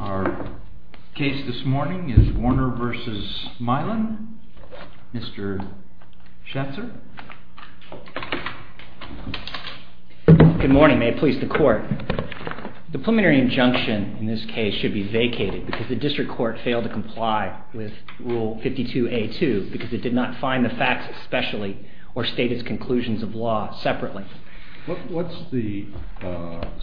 Our case this morning is Warner v. Mylan. Mr. Schatzer. Good morning. May it please the court. The preliminary injunction in this case should be vacated because the district court failed to comply with Rule 52A.2 because it did not find the facts especially or state its conclusions of law separately. What's the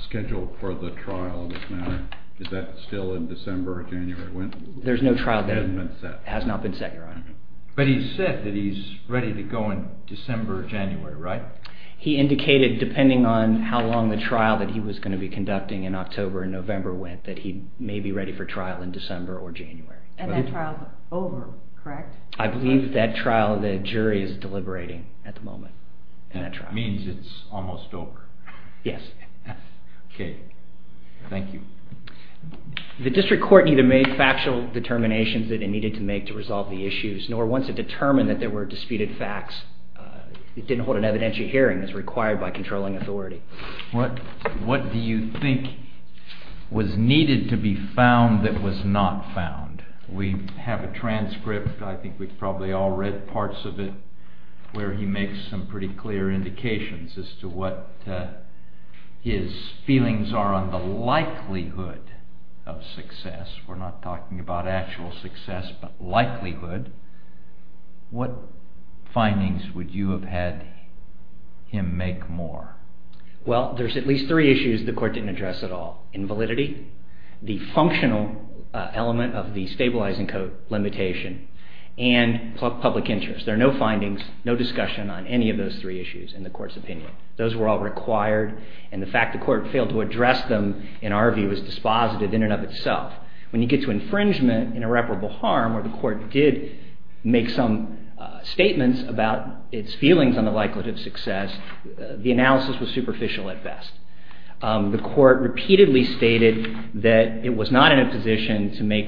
schedule for the trial in this matter? Is that still in December or January? There's no trial date. It hasn't been set? It has not been set, Your Honor. But he said that he's ready to go in December or January, right? He indicated, depending on how long the trial that he was going to be conducting in October and November went, that he may be ready for trial in December or January. And that trial's over, correct? I believe that trial, the jury is deliberating at the moment. It means it's almost over. Yes. Okay. Thank you. The district court neither made factual determinations that it needed to make to resolve the issues nor once it determined that there were disputed facts. It didn't hold an evidentiary hearing as required by controlling authority. What do you think was needed to be found that was not found? We have a transcript. I think we've probably all read parts of it where he makes some pretty clear indications as to what his feelings are on the likelihood of success. We're not talking about actual success but likelihood. What findings would you have had him make more? Well, there's at least three issues the court didn't address at all. Invalidity, the functional element of the stabilizing code limitation, and public interest. There are no findings, no discussion on any of those three issues in the court's opinion. Those were all required and the fact the court failed to address them in our view was dispositive in and of itself. When you get to infringement, irreparable harm, where the court did make some statements about its feelings on the likelihood of success, the analysis was superficial at best. The court repeatedly stated that it was not in a position to make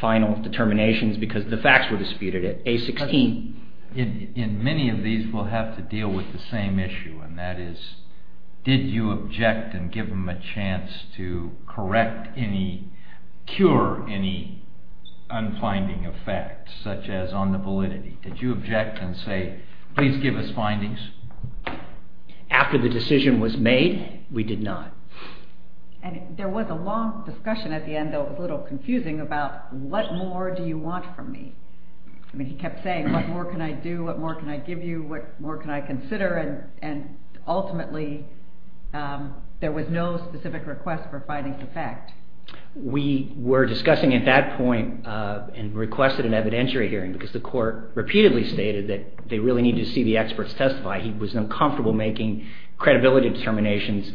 final determinations because the facts were disputed at A16. In many of these we'll have to deal with the same issue and that is, did you object and give him a chance to correct any, cure any unfinding of facts such as on the validity? Did you object and say, please give us findings? After the decision was made, we did not. And there was a long discussion at the end, though it was a little confusing, about what more do you want from me? I mean, he kept saying, what more can I do? What more can I give you? What more can I consider? And ultimately, there was no specific request for findings of fact. We were discussing at that point and requested an evidentiary hearing because the court repeatedly stated that they really needed to see the experts testify. He was uncomfortable making credibility determinations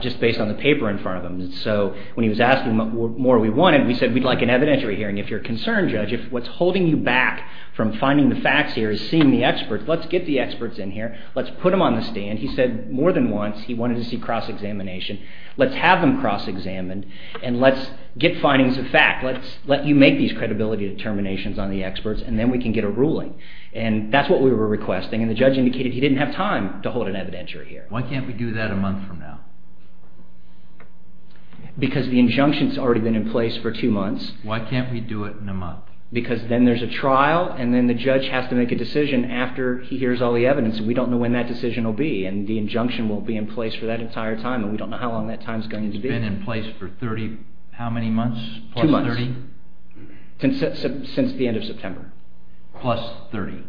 just based on the paper in front of him. So when he was asking what more we wanted, we said we'd like an evidentiary hearing. If you're concerned, Judge, if what's holding you back from finding the facts here is seeing the experts, let's get the experts in here. Let's put them on the stand. He said more than once he wanted to see cross-examination. Let's have them cross-examined and let's get findings of fact. Let's let you make these credibility determinations on the experts and then we can get a ruling. And that's what we were requesting, and the judge indicated he didn't have time to hold an evidentiary hearing. Why can't we do that a month from now? Because the injunction's already been in place for two months. Why can't we do it in a month? Because then there's a trial, and then the judge has to make a decision after he hears all the evidence, and we don't know when that decision will be. And the injunction will be in place for that entire time, and we don't know how long that time's going to be. It's been in place for 30 how many months? Two months. Plus 30? Since the end of September. Plus 30,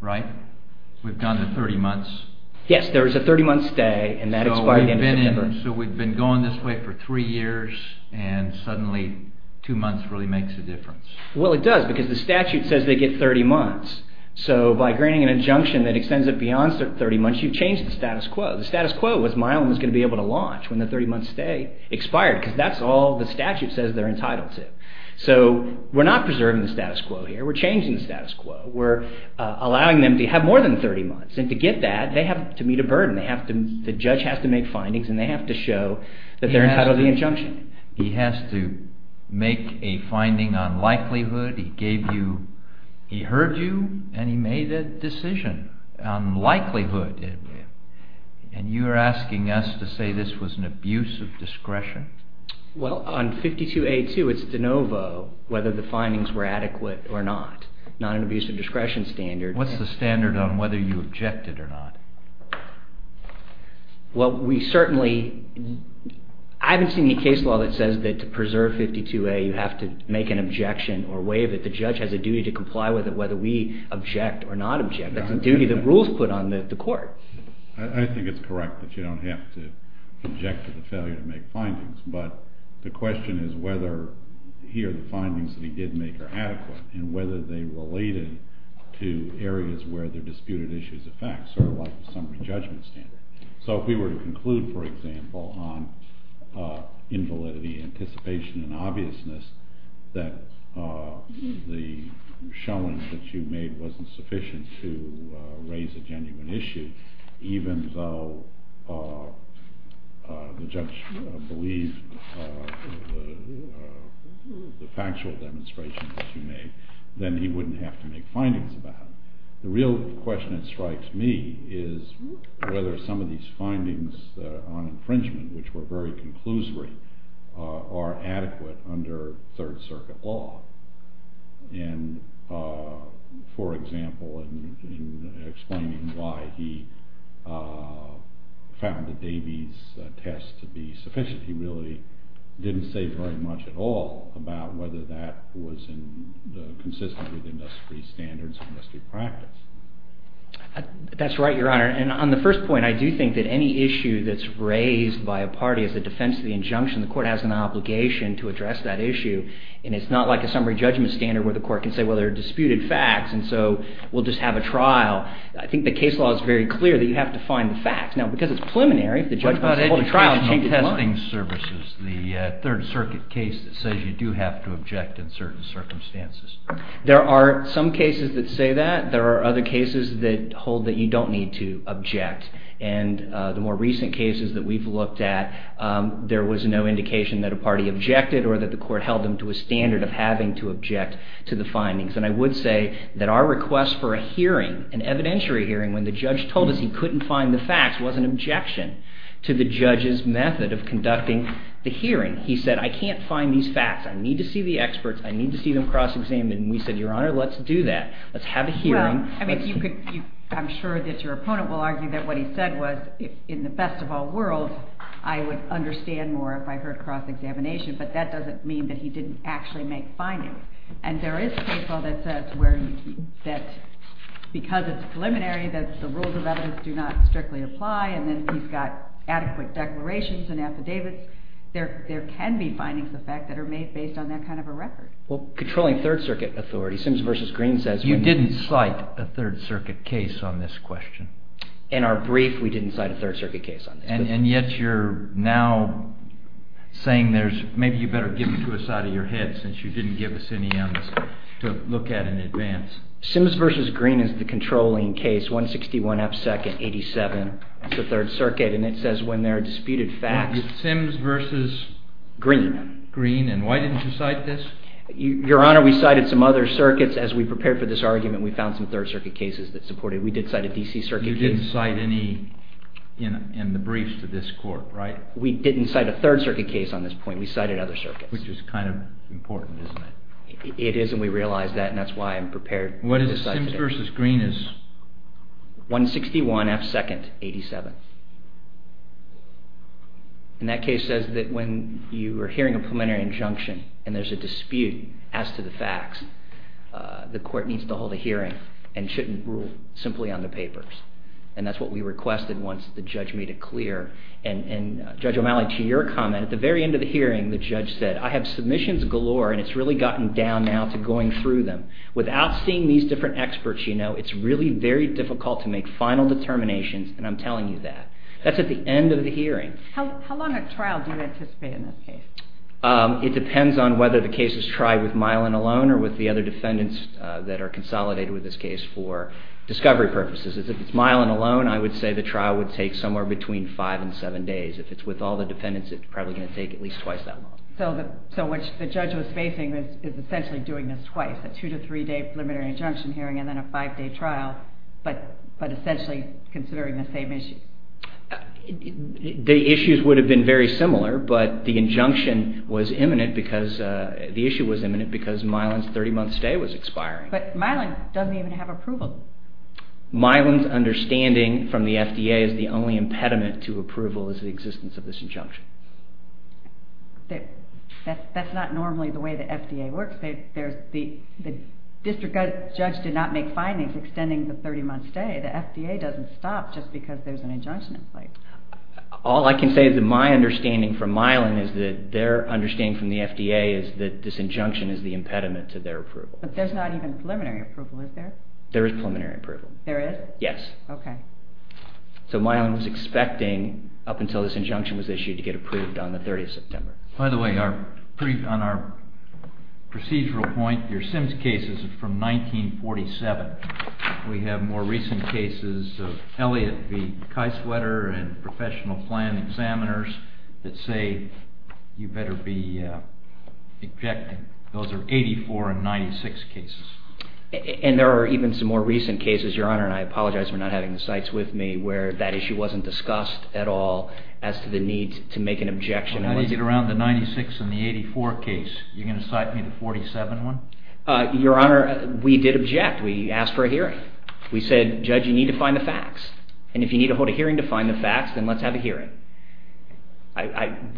right? We've gone to 30 months. Yes, there was a 30-month stay, and that expired the end of September. So we've been going this way for three years, and suddenly two months really makes a difference. Well, it does, because the statute says they get 30 months. So by granting an injunction that extends it beyond 30 months, you've changed the status quo. The status quo was Milam was going to be able to launch when the 30-month stay expired, because that's all the statute says they're entitled to. So we're not preserving the status quo here. We're changing the status quo. We're allowing them to have more than 30 months, and to get that, they have to meet a burden. The judge has to make findings, and they have to show that they're entitled to the injunction. He has to make a finding on likelihood. He heard you, and he made a decision on likelihood, and you're asking us to say this was an abuse of discretion? Well, on 52A2, it's de novo whether the findings were adequate or not, not an abuse of discretion standard. What's the standard on whether you objected or not? Well, we certainly—I haven't seen any case law that says that to preserve 52A, you have to make an objection or waive it. The judge has a duty to comply with it whether we object or not object. That's a duty that rules put on the court. I think it's correct that you don't have to object to the failure to make findings, but the question is whether here the findings that he did make are adequate, and whether they related to areas where the disputed issues affect, sort of like the summary judgment standard. So if we were to conclude, for example, on invalidity, anticipation, and obviousness that the showing that you made wasn't sufficient to raise a genuine issue, even though the judge believed the factual demonstration that you made, then he wouldn't have to make findings about it. The real question that strikes me is whether some of these findings on infringement, which were very conclusory, are adequate under Third Circuit law. And, for example, in explaining why he found the Davies test to be sufficient, he really didn't say very much at all about whether that was consistent with industry standards and industry practice. That's right, Your Honor. And on the first point, I do think that any issue that's raised by a party as a defense of the injunction, the court has an obligation to address that issue. And it's not like a summary judgment standard where the court can say, well, there are disputed facts, and so we'll just have a trial. I think the case law is very clear that you have to find the facts. Now, because it's preliminary, if the judge wants to hold a trial, he can do that. What about educational testing services, the Third Circuit case that says you do have to object in certain circumstances? There are some cases that say that. There are other cases that hold that you don't need to object. And the more recent cases that we've looked at, there was no indication that a party objected or that the court held them to a standard of having to object to the findings. And I would say that our request for a hearing, an evidentiary hearing, when the judge told us he couldn't find the facts, was an objection to the judge's method of conducting the hearing. He said, I can't find these facts. I need to see the experts. I need to see them cross-examined. And we said, Your Honor, let's do that. Let's have a hearing. Well, I mean, I'm sure that your opponent will argue that what he said was, in the best of all worlds, I would understand more if I heard cross-examination. But that doesn't mean that he didn't actually make findings. And there is a case law that says that because it's preliminary, that the rules of evidence do not strictly apply. And then he's got adequate declarations and affidavits. There can be findings, in fact, that are made based on that kind of a record. Well, controlling Third Circuit authority, Sims v. Green says when you… You didn't cite a Third Circuit case on this question. In our brief, we didn't cite a Third Circuit case on this. And yet you're now saying there's – maybe you better give it to us out of your head, since you didn't give us any evidence to look at in advance. Sims v. Green is the controlling case, 161 App. 2nd. 87. It's the Third Circuit. And it says when there are disputed facts… Well, it's Sims v. Green. Green. And why didn't you cite this? Your Honor, we cited some other circuits as we prepared for this argument. We found some Third Circuit cases that supported it. We did cite a D.C. Circuit case. But you didn't cite any in the briefs to this court, right? We didn't cite a Third Circuit case on this point. We cited other circuits. Which is kind of important, isn't it? It is, and we realize that, and that's why I'm prepared to cite today. What is Sims v. Green is? 161 App. 2nd. 87. And that case says that when you are hearing a preliminary injunction and there's a dispute as to the facts, the court needs to hold a hearing and shouldn't rule simply on the papers. And that's what we requested once the judge made it clear. And Judge O'Malley, to your comment, at the very end of the hearing the judge said, I have submissions galore and it's really gotten down now to going through them. Without seeing these different experts, you know, it's really very difficult to make final determinations, and I'm telling you that. That's at the end of the hearing. How long a trial do you anticipate in this case? It depends on whether the case is tried with Milan alone or with the other defendants that are consolidated with this case for discovery purposes. If it's Milan alone, I would say the trial would take somewhere between 5 and 7 days. If it's with all the defendants, it's probably going to take at least twice that long. So what the judge was facing is essentially doing this twice, a 2 to 3 day preliminary injunction hearing and then a 5 day trial, but essentially considering the same issue. The issues would have been very similar, but the injunction was imminent because the issue was imminent because Milan's 30 month stay was expiring. But Milan doesn't even have approval. Milan's understanding from the FDA is the only impediment to approval is the existence of this injunction. That's not normally the way the FDA works. The district judge did not make findings extending the 30 month stay. The FDA doesn't stop just because there's an injunction in place. All I can say is that my understanding from Milan is that their understanding from the FDA is that this injunction is the impediment to their approval. But there's not even preliminary approval, is there? There is preliminary approval. There is? Yes. Okay. So Milan was expecting, up until this injunction was issued, to get approved on the 30th of September. By the way, on our procedural point, your Sims case is from 1947. We have more recent cases of Elliott v. Kieswetter and professional plan examiners that say you better be objecting. Those are 84 and 96 cases. And there are even some more recent cases, Your Honor, and I apologize for not having the cites with me, where that issue wasn't discussed at all as to the need to make an objection. I think it was around the 96 and the 84 case. Are you going to cite me the 47 one? Your Honor, we did object. We asked for a hearing. We said, Judge, you need to find the facts. And if you need to hold a hearing to find the facts, then let's have a hearing.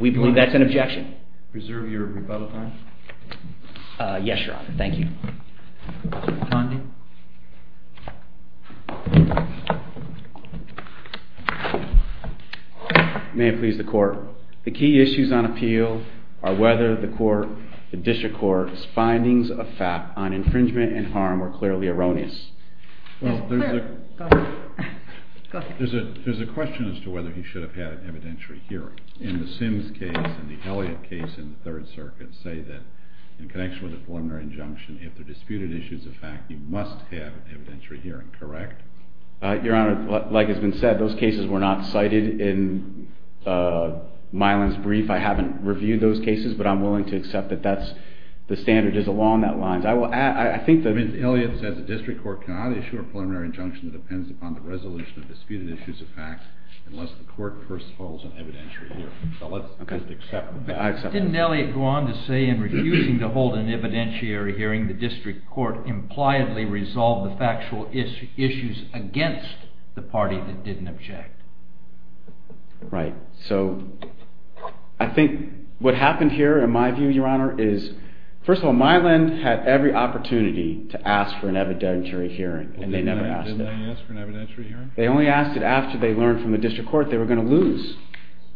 We believe that's an objection. Reserve your rebuttal time. Yes, Your Honor. Thank you. Tondi. May it please the Court. The key issues on appeal are whether the District Court's findings of fact on infringement and harm were clearly erroneous. Well, there's a question as to whether he should have had an evidentiary hearing. In the Sims case and the Elliott case in the Third Circuit, say that in connection with the preliminary injunction, if the disputed issue is a fact, he must have an evidentiary hearing, correct? Your Honor, like has been said, those cases were not cited in Milan's brief. I haven't reviewed those cases, but I'm willing to accept that that's the standard. It is along those lines. I think that… Elliott says the District Court cannot issue a preliminary injunction that depends upon the resolution of disputed issues of fact unless the Court first holds an evidentiary hearing. So let's just accept that. Didn't Elliott go on to say in refusing to hold an evidentiary hearing, the District Court impliedly resolved the factual issues against the party that didn't object? Right. So I think what happened here, in my view, Your Honor, is, first of all, Milan had every opportunity to ask for an evidentiary hearing, and they never asked it. Didn't they ask for an evidentiary hearing? They only asked it after they learned from the District Court they were going to lose.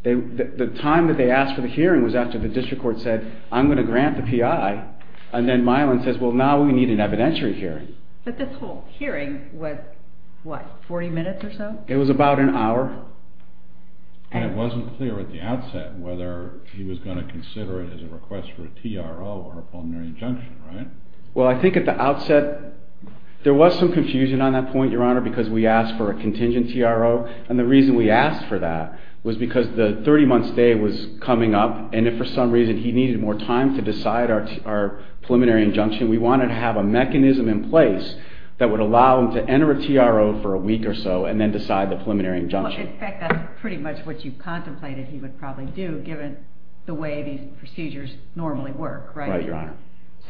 The time that they asked for the hearing was after the District Court said, I'm going to grant the P.I., and then Milan says, well, now we need an evidentiary hearing. But this whole hearing was, what, 40 minutes or so? It was about an hour. And it wasn't clear at the outset whether he was going to consider it as a request for a T.R.O. or a preliminary injunction, right? Well, I think at the outset there was some confusion on that point, Your Honor, because we asked for a contingent T.R.O., and the reason we asked for that was because the 30-month stay was coming up, and if for some reason he needed more time to decide our preliminary injunction, we wanted to have a mechanism in place that would allow him to enter a T.R.O. for a week or so and then decide the preliminary injunction. In fact, that's pretty much what you contemplated he would probably do, given the way these procedures normally work, right? Right, Your Honor.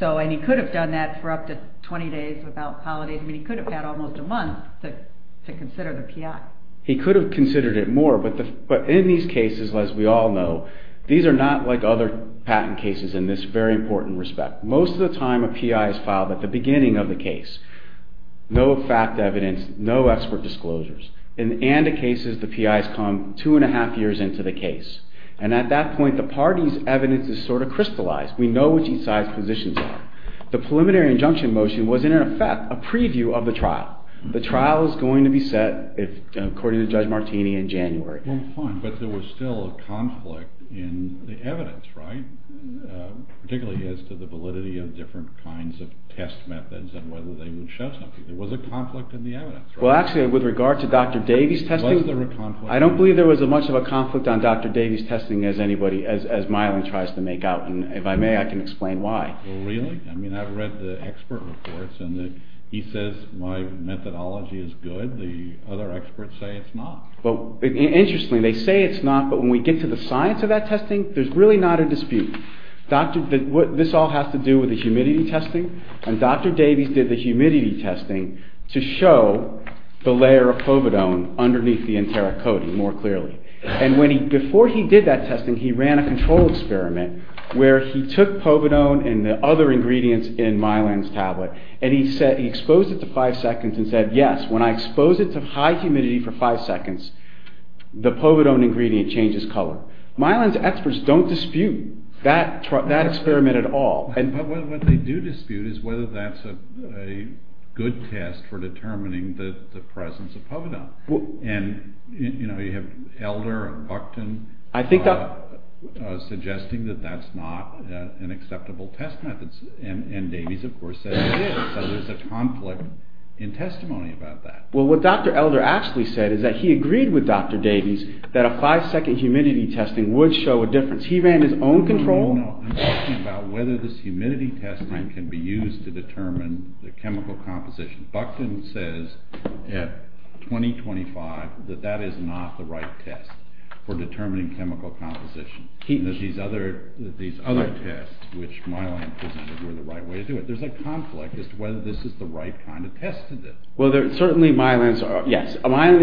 And he could have done that for up to 20 days without holidays. I mean, he could have had almost a month to consider the P.I. He could have considered it more, but in these cases, as we all know, these are not like other patent cases in this very important respect. Most of the time a P.I. is filed at the beginning of the case. No fact evidence, no expert disclosures. In ANDA cases, the P.I.s come two and a half years into the case, and at that point the party's evidence is sort of crystallized. We know which each side's positions are. The preliminary injunction motion was, in effect, a preview of the trial. The trial is going to be set, according to Judge Martini, in January. Well, fine, but there was still a conflict in the evidence, right, particularly as to the validity of different kinds of test methods and whether they would show something. There was a conflict in the evidence, right? Well, actually, with regard to Dr. Davies' testing, I don't believe there was as much of a conflict on Dr. Davies' testing as Meiling tries to make out, and if I may, I can explain why. Really? I mean, I've read the expert reports, and he says my methodology is good. The other experts say it's not. Well, interestingly, they say it's not, but when we get to the science of that testing, there's really not a dispute. This all has to do with the humidity testing, and Dr. Davies did the humidity testing to show the layer of povidone underneath the enteric coating more clearly, and before he did that testing, he ran a control experiment where he took povidone and the other ingredients in Meiling's tablet, and he exposed it to five seconds and said, yes, when I expose it to high humidity for five seconds, the povidone ingredient changes color. Meiling's experts don't dispute that experiment at all. But what they do dispute is whether that's a good test for determining the presence of povidone, and you have Elder and Buckton suggesting that that's not an acceptable test method, and Davies, of course, says it is, so there's a conflict in testimony about that. Well, what Dr. Elder actually said is that he agreed with Dr. Davies that a five-second humidity testing would show a difference. No, no, I'm talking about whether this humidity testing can be used to determine the chemical composition. Buckton says at 2025 that that is not the right test for determining chemical composition. These other tests which Meiling presented were the right way to do it. There's a conflict as to whether this is the right kind of test to do. Well, certainly Meiling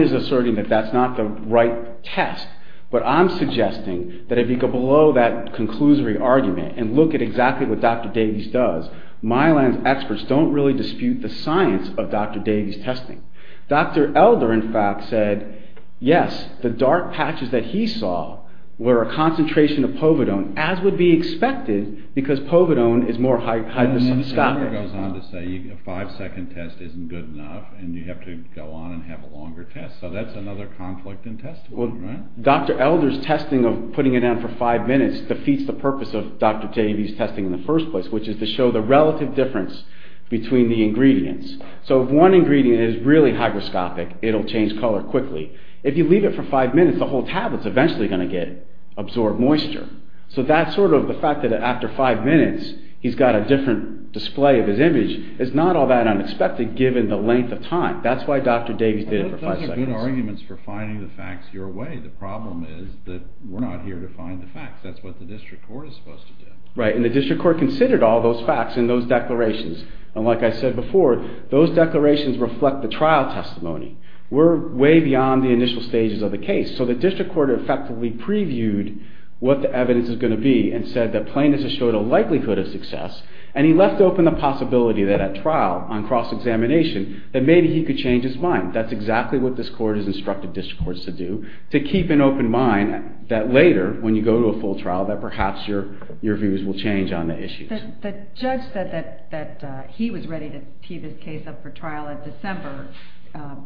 is asserting that that's not the right test, but I'm suggesting that if you go below that conclusory argument and look at exactly what Dr. Davies does, Meiling's experts don't really dispute the science of Dr. Davies' testing. Dr. Elder, in fact, said yes, the dark patches that he saw were a concentration of povidone, as would be expected, because povidone is more hypersaturated. Elder goes on to say a five-second test isn't good enough, and you have to go on and have a longer test, so that's another conflict in testimony, right? Dr. Elder's testing of putting it down for five minutes defeats the purpose of Dr. Davies' testing in the first place, which is to show the relative difference between the ingredients. So if one ingredient is really hygroscopic, it'll change color quickly. If you leave it for five minutes, the whole tablet's eventually going to get absorbed moisture. So that's sort of the fact that after five minutes, he's got a different display of his image. It's not all that unexpected, given the length of time. That's why Dr. Davies did it for five seconds. Good arguments for finding the facts your way. The problem is that we're not here to find the facts. That's what the district court is supposed to do. Right, and the district court considered all those facts in those declarations, and like I said before, those declarations reflect the trial testimony. We're way beyond the initial stages of the case, so the district court effectively previewed what the evidence is going to be and said that plainness has showed a likelihood of success, and he left open the possibility that at trial, on cross-examination, that maybe he could change his mind. That's exactly what this court has instructed district courts to do, to keep an open mind that later, when you go to a full trial, that perhaps your views will change on the issues. The judge said that he was ready to tee this case up for trial in December,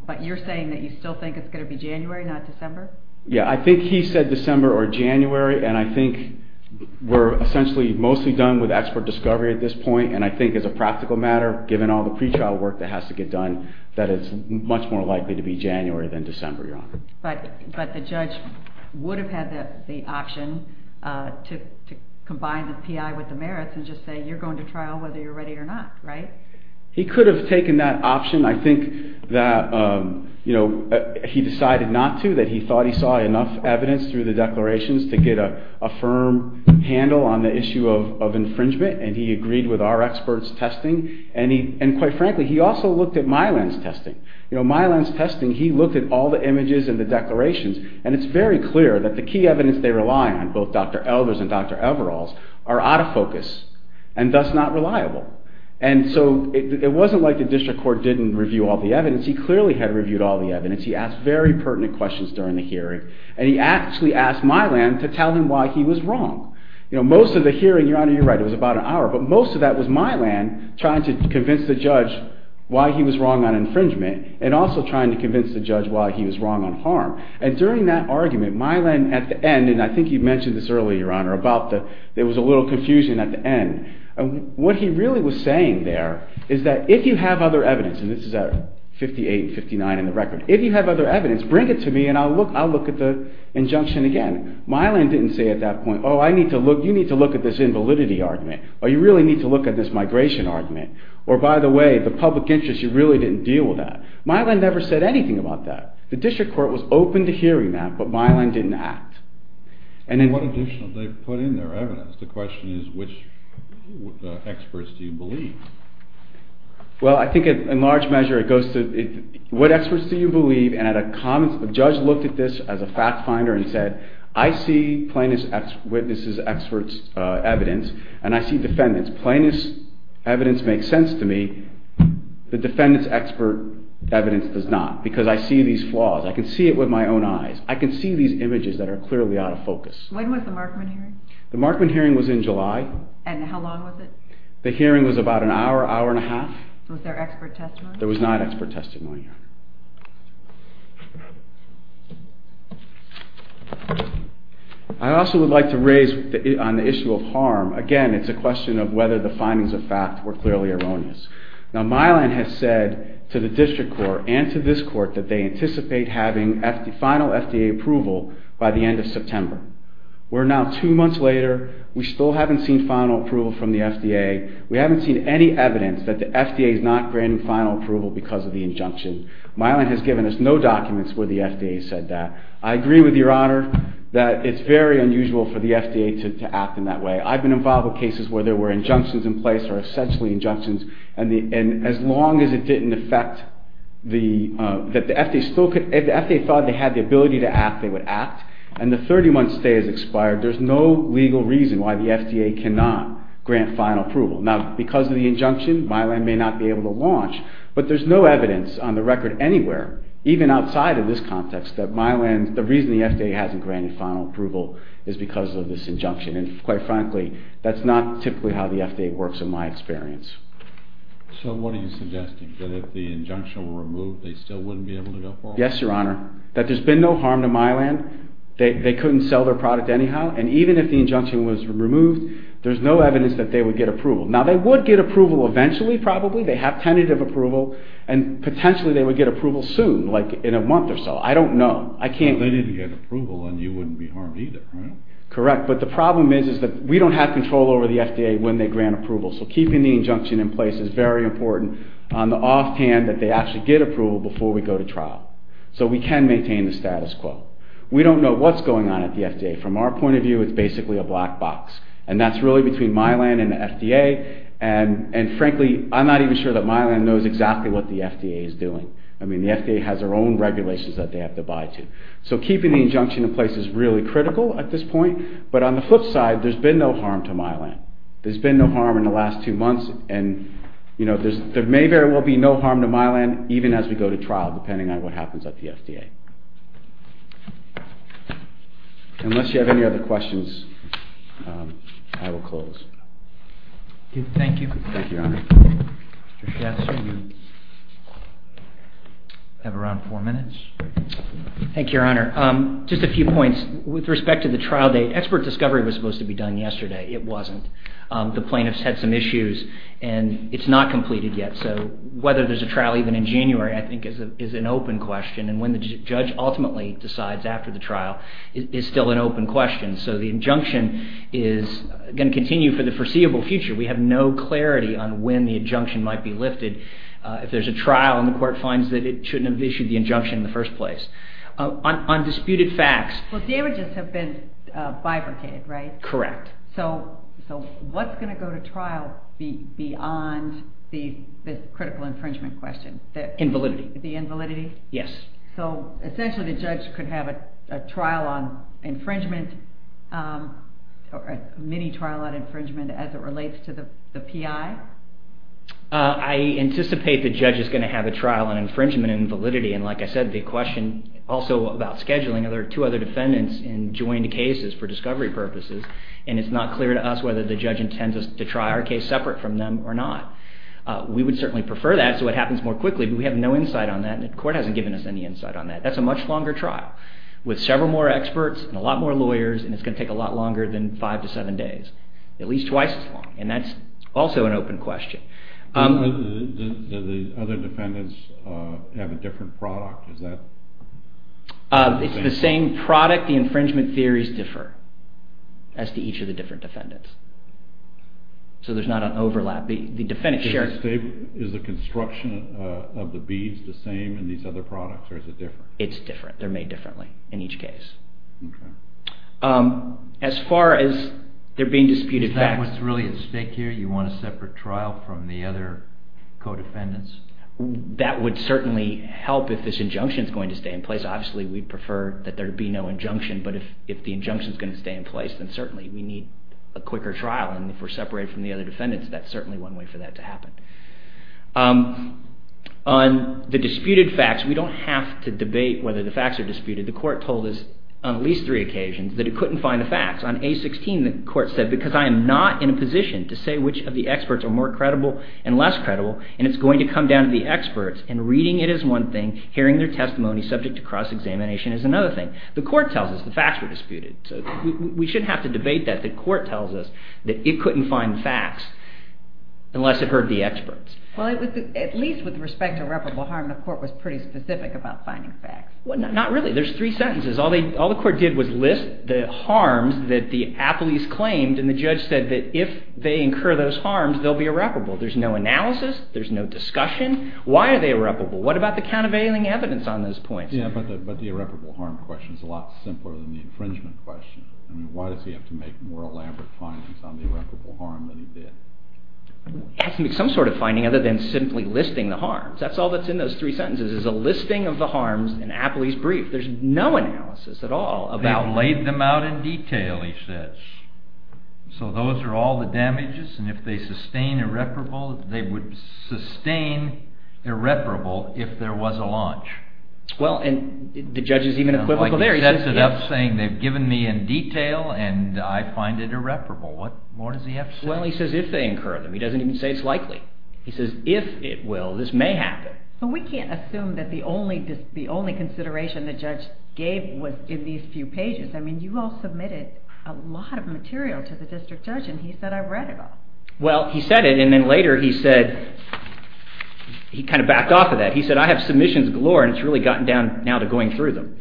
but you're saying that you still think it's going to be January, not December? Yeah, I think he said December or January, and I think we're essentially mostly done with expert discovery at this point, and I think as a practical matter, given all the pretrial work that has to get done, that it's much more likely to be January than December, Your Honor. But the judge would have had the option to combine the P.I. with the merits and just say you're going to trial whether you're ready or not, right? He could have taken that option. I think that he decided not to, that he thought he saw enough evidence through the declarations to get a firm handle on the issue of infringement, and he agreed with our experts' testing, and quite frankly, he also looked at Mylan's testing. Mylan's testing, he looked at all the images and the declarations, and it's very clear that the key evidence they rely on, both Dr. Elders and Dr. Everalls, are out of focus and thus not reliable. And so it wasn't like the district court didn't review all the evidence. He clearly had reviewed all the evidence. He asked very pertinent questions during the hearing, and he actually asked Mylan to tell him why he was wrong. But most of that was Mylan trying to convince the judge why he was wrong on infringement and also trying to convince the judge why he was wrong on harm. And during that argument, Mylan, at the end, and I think you mentioned this earlier, Your Honor, about there was a little confusion at the end. What he really was saying there is that if you have other evidence, and this is at 58 and 59 in the record, if you have other evidence, bring it to me and I'll look at the injunction again. Mylan didn't say at that point, oh, you need to look at this invalidity argument, or you really need to look at this migration argument, or by the way, the public interest, you really didn't deal with that. Mylan never said anything about that. The district court was open to hearing that, but Mylan didn't act. And what additional did they put in their evidence? The question is which experts do you believe? Well, I think in large measure it goes to what experts do you believe, and a judge looked at this as a fact finder and said, I see plaintiff's witness's expert's evidence, and I see defendant's. Plaintiff's evidence makes sense to me. The defendant's expert evidence does not, because I see these flaws. I can see it with my own eyes. I can see these images that are clearly out of focus. When was the Markman hearing? The Markman hearing was in July. And how long was it? The hearing was about an hour, hour and a half. Was there expert testimony? There was not expert testimony, Your Honor. I also would like to raise on the issue of harm. Again, it's a question of whether the findings of fact were clearly erroneous. Now, Mylan has said to the district court and to this court that they anticipate having final FDA approval by the end of September. We're now two months later. We still haven't seen final approval from the FDA. We haven't seen any evidence that the FDA is not granting final approval because of the injunction. Mylan has given us no documents where the FDA said that. I agree with Your Honor that it's very unusual for the FDA to act in that way. I've been involved with cases where there were injunctions in place or essentially injunctions. And as long as it didn't affect that the FDA thought they had the ability to act, they would act. And the 30-month stay has expired. There's no legal reason why the FDA cannot grant final approval. Now, because of the injunction, Mylan may not be able to launch. But there's no evidence on the record anywhere, even outside of this context, that Mylan, the reason the FDA hasn't granted final approval is because of this injunction. And quite frankly, that's not typically how the FDA works in my experience. So what are you suggesting? That if the injunction were removed, they still wouldn't be able to go forward? Yes, Your Honor. That there's been no harm to Mylan. They couldn't sell their product anyhow. And even if the injunction was removed, there's no evidence that they would get approval. Now, they would get approval eventually probably. They have tentative approval. And potentially they would get approval soon, like in a month or so. I don't know. They need to get approval and you wouldn't be harmed either, right? Correct. But the problem is that we don't have control over the FDA when they grant approval. So keeping the injunction in place is very important on the offhand that they actually get approval before we go to trial. So we can maintain the status quo. We don't know what's going on at the FDA. From our point of view, it's basically a black box. And that's really between Mylan and the FDA. And frankly, I'm not even sure that Mylan knows exactly what the FDA is doing. I mean, the FDA has their own regulations that they have to abide to. So keeping the injunction in place is really critical at this point. But on the flip side, there's been no harm to Mylan. There's been no harm in the last two months. And there may very well be no harm to Mylan even as we go to trial, depending on what happens at the FDA. Unless you have any other questions, I will close. Thank you. Thank you, Your Honor. I have around four minutes. Thank you, Your Honor. Just a few points. With respect to the trial date, expert discovery was supposed to be done yesterday. It wasn't. The plaintiffs had some issues. And it's not completed yet. So whether there's a trial even in January, I think, is an open question. And when the judge ultimately decides after the trial is still an open question. So the injunction is going to continue for the foreseeable future. We have no clarity on when the injunction might be lifted. If there's a trial and the court finds that it shouldn't have issued the injunction in the first place. On disputed facts. Well, damages have been bifurcated, right? Correct. So what's going to go to trial beyond the critical infringement question? Invalidity. The invalidity? Yes. So essentially the judge could have a trial on infringement, a mini-trial on infringement as it relates to the PI? I anticipate the judge is going to have a trial on infringement and invalidity. And like I said, the question also about scheduling two other defendants in joined cases for discovery purposes. And it's not clear to us whether the judge intends us to try our case separate from them or not. We would certainly prefer that so it happens more quickly. But we have no insight on that. And the court hasn't given us any insight on that. That's a much longer trial with several more experts and a lot more lawyers. And it's going to take a lot longer than five to seven days. At least twice as long. And that's also an open question. Do the other defendants have a different product? It's the same product. The infringement theories differ as to each of the different defendants. So there's not an overlap. Is the construction of the beads the same in these other products or is it different? It's different. They're made differently in each case. As far as there being disputed facts. Is that what's really at stake here? You want a separate trial from the other co-defendants? That would certainly help if this injunction is going to stay in place. Obviously we'd prefer that there be no injunction. But if the injunction is going to stay in place, then certainly we need a quicker trial. And if we're separated from the other defendants, that's certainly one way for that to happen. On the disputed facts, we don't have to debate whether the facts are disputed. The court told us on at least three occasions that it couldn't find the facts. On A16, the court said, because I am not in a position to say which of the experts are more credible and less credible, and it's going to come down to the experts, and reading it is one thing, hearing their testimony subject to cross-examination is another thing. The court tells us the facts were disputed. So we shouldn't have to debate that. The court tells us that it couldn't find the facts unless it heard the experts. Well, at least with respect to irreparable harm, the court was pretty specific about finding facts. Well, not really. There's three sentences. All the court did was list the harms that the appellees claimed, and the judge said that if they incur those harms, they'll be irreparable. There's no analysis. There's no discussion. Why are they irreparable? What about the countervailing evidence on those points? Yeah, but the irreparable harm question is a lot simpler than the infringement question. I mean, why does he have to make more elaborate findings on the irreparable harm than he did? He has to make some sort of finding other than simply listing the harms. That's all that's in those three sentences is a listing of the harms in an appellee's brief. There's no analysis at all about it. They've laid them out in detail, he says. So those are all the damages, and if they sustain irreparable, they would sustain irreparable if there was a launch. Well, and the judge is even equivocal there. He sets it up saying they've given me in detail, and I find it irreparable. What more does he have to say? Well, he says if they incur them. He doesn't even say it's likely. He says if it will, this may happen. But we can't assume that the only consideration the judge gave was in these few pages. I mean, you all submitted a lot of material to the district judge, and he said I've read it all. Well, he said it, and then later he said he kind of backed off of that. He said I have submissions galore, and it's really gotten down now to going through them.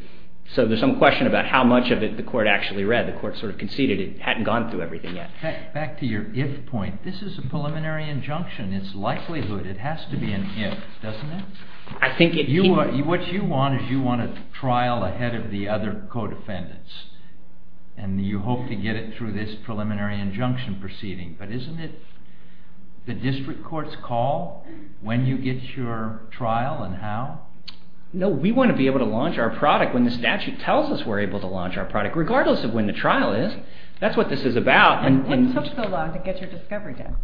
So there's some question about how much of it the court actually read. The court sort of conceded it hadn't gone through everything yet. Back to your if point, this is a preliminary injunction. It's likelihood. It has to be an if, doesn't it? What you want is you want a trial ahead of the other co-defendants, and you hope to get it through this preliminary injunction proceeding. But isn't it the district court's call when you get your trial and how? No, we want to be able to launch our product when the statute tells us we're able to launch our product, regardless of when the trial is. That's what this is about. What took so long to get your discovery done?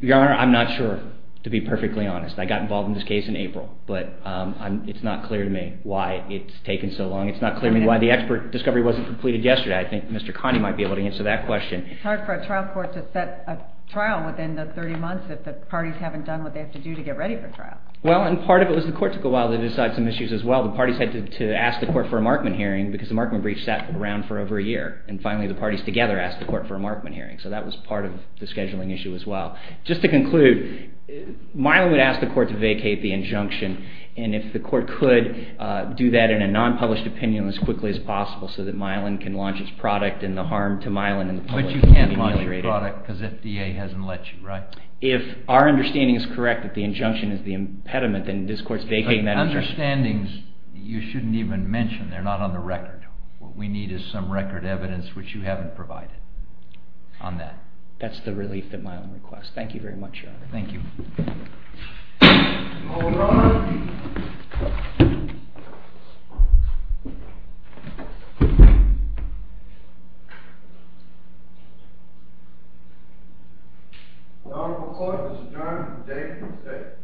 Your Honor, I'm not sure, to be perfectly honest. I got involved in this case in April, but it's not clear to me why it's taken so long. It's not clear to me why the expert discovery wasn't completed yesterday. I think Mr. Connie might be able to answer that question. It's hard for a trial court to set a trial within the 30 months if the parties haven't done what they have to do to get ready for trial. Well, and part of it was the court took a while to decide some issues as well. The parties had to ask the court for a Markman hearing because the Markman brief sat around for over a year, and finally the parties together asked the court for a Markman hearing. So that was part of the scheduling issue as well. Just to conclude, Milan would ask the court to vacate the injunction, and if the court could do that in a non-published opinion as quickly as possible so that Milan can launch its product and the harm to Milan and the public can be ameliorated. But you can't launch your product because FDA hasn't let you, right? If our understanding is correct that the injunction is the impediment, then this court's vacating that injunction. But the understandings you shouldn't even mention. They're not on the record. What we need is some record evidence which you haven't provided on that. That's the relief that Milan requests. Thank you very much, Your Honor. Thank you. The Honorable Court has adjourned for the day.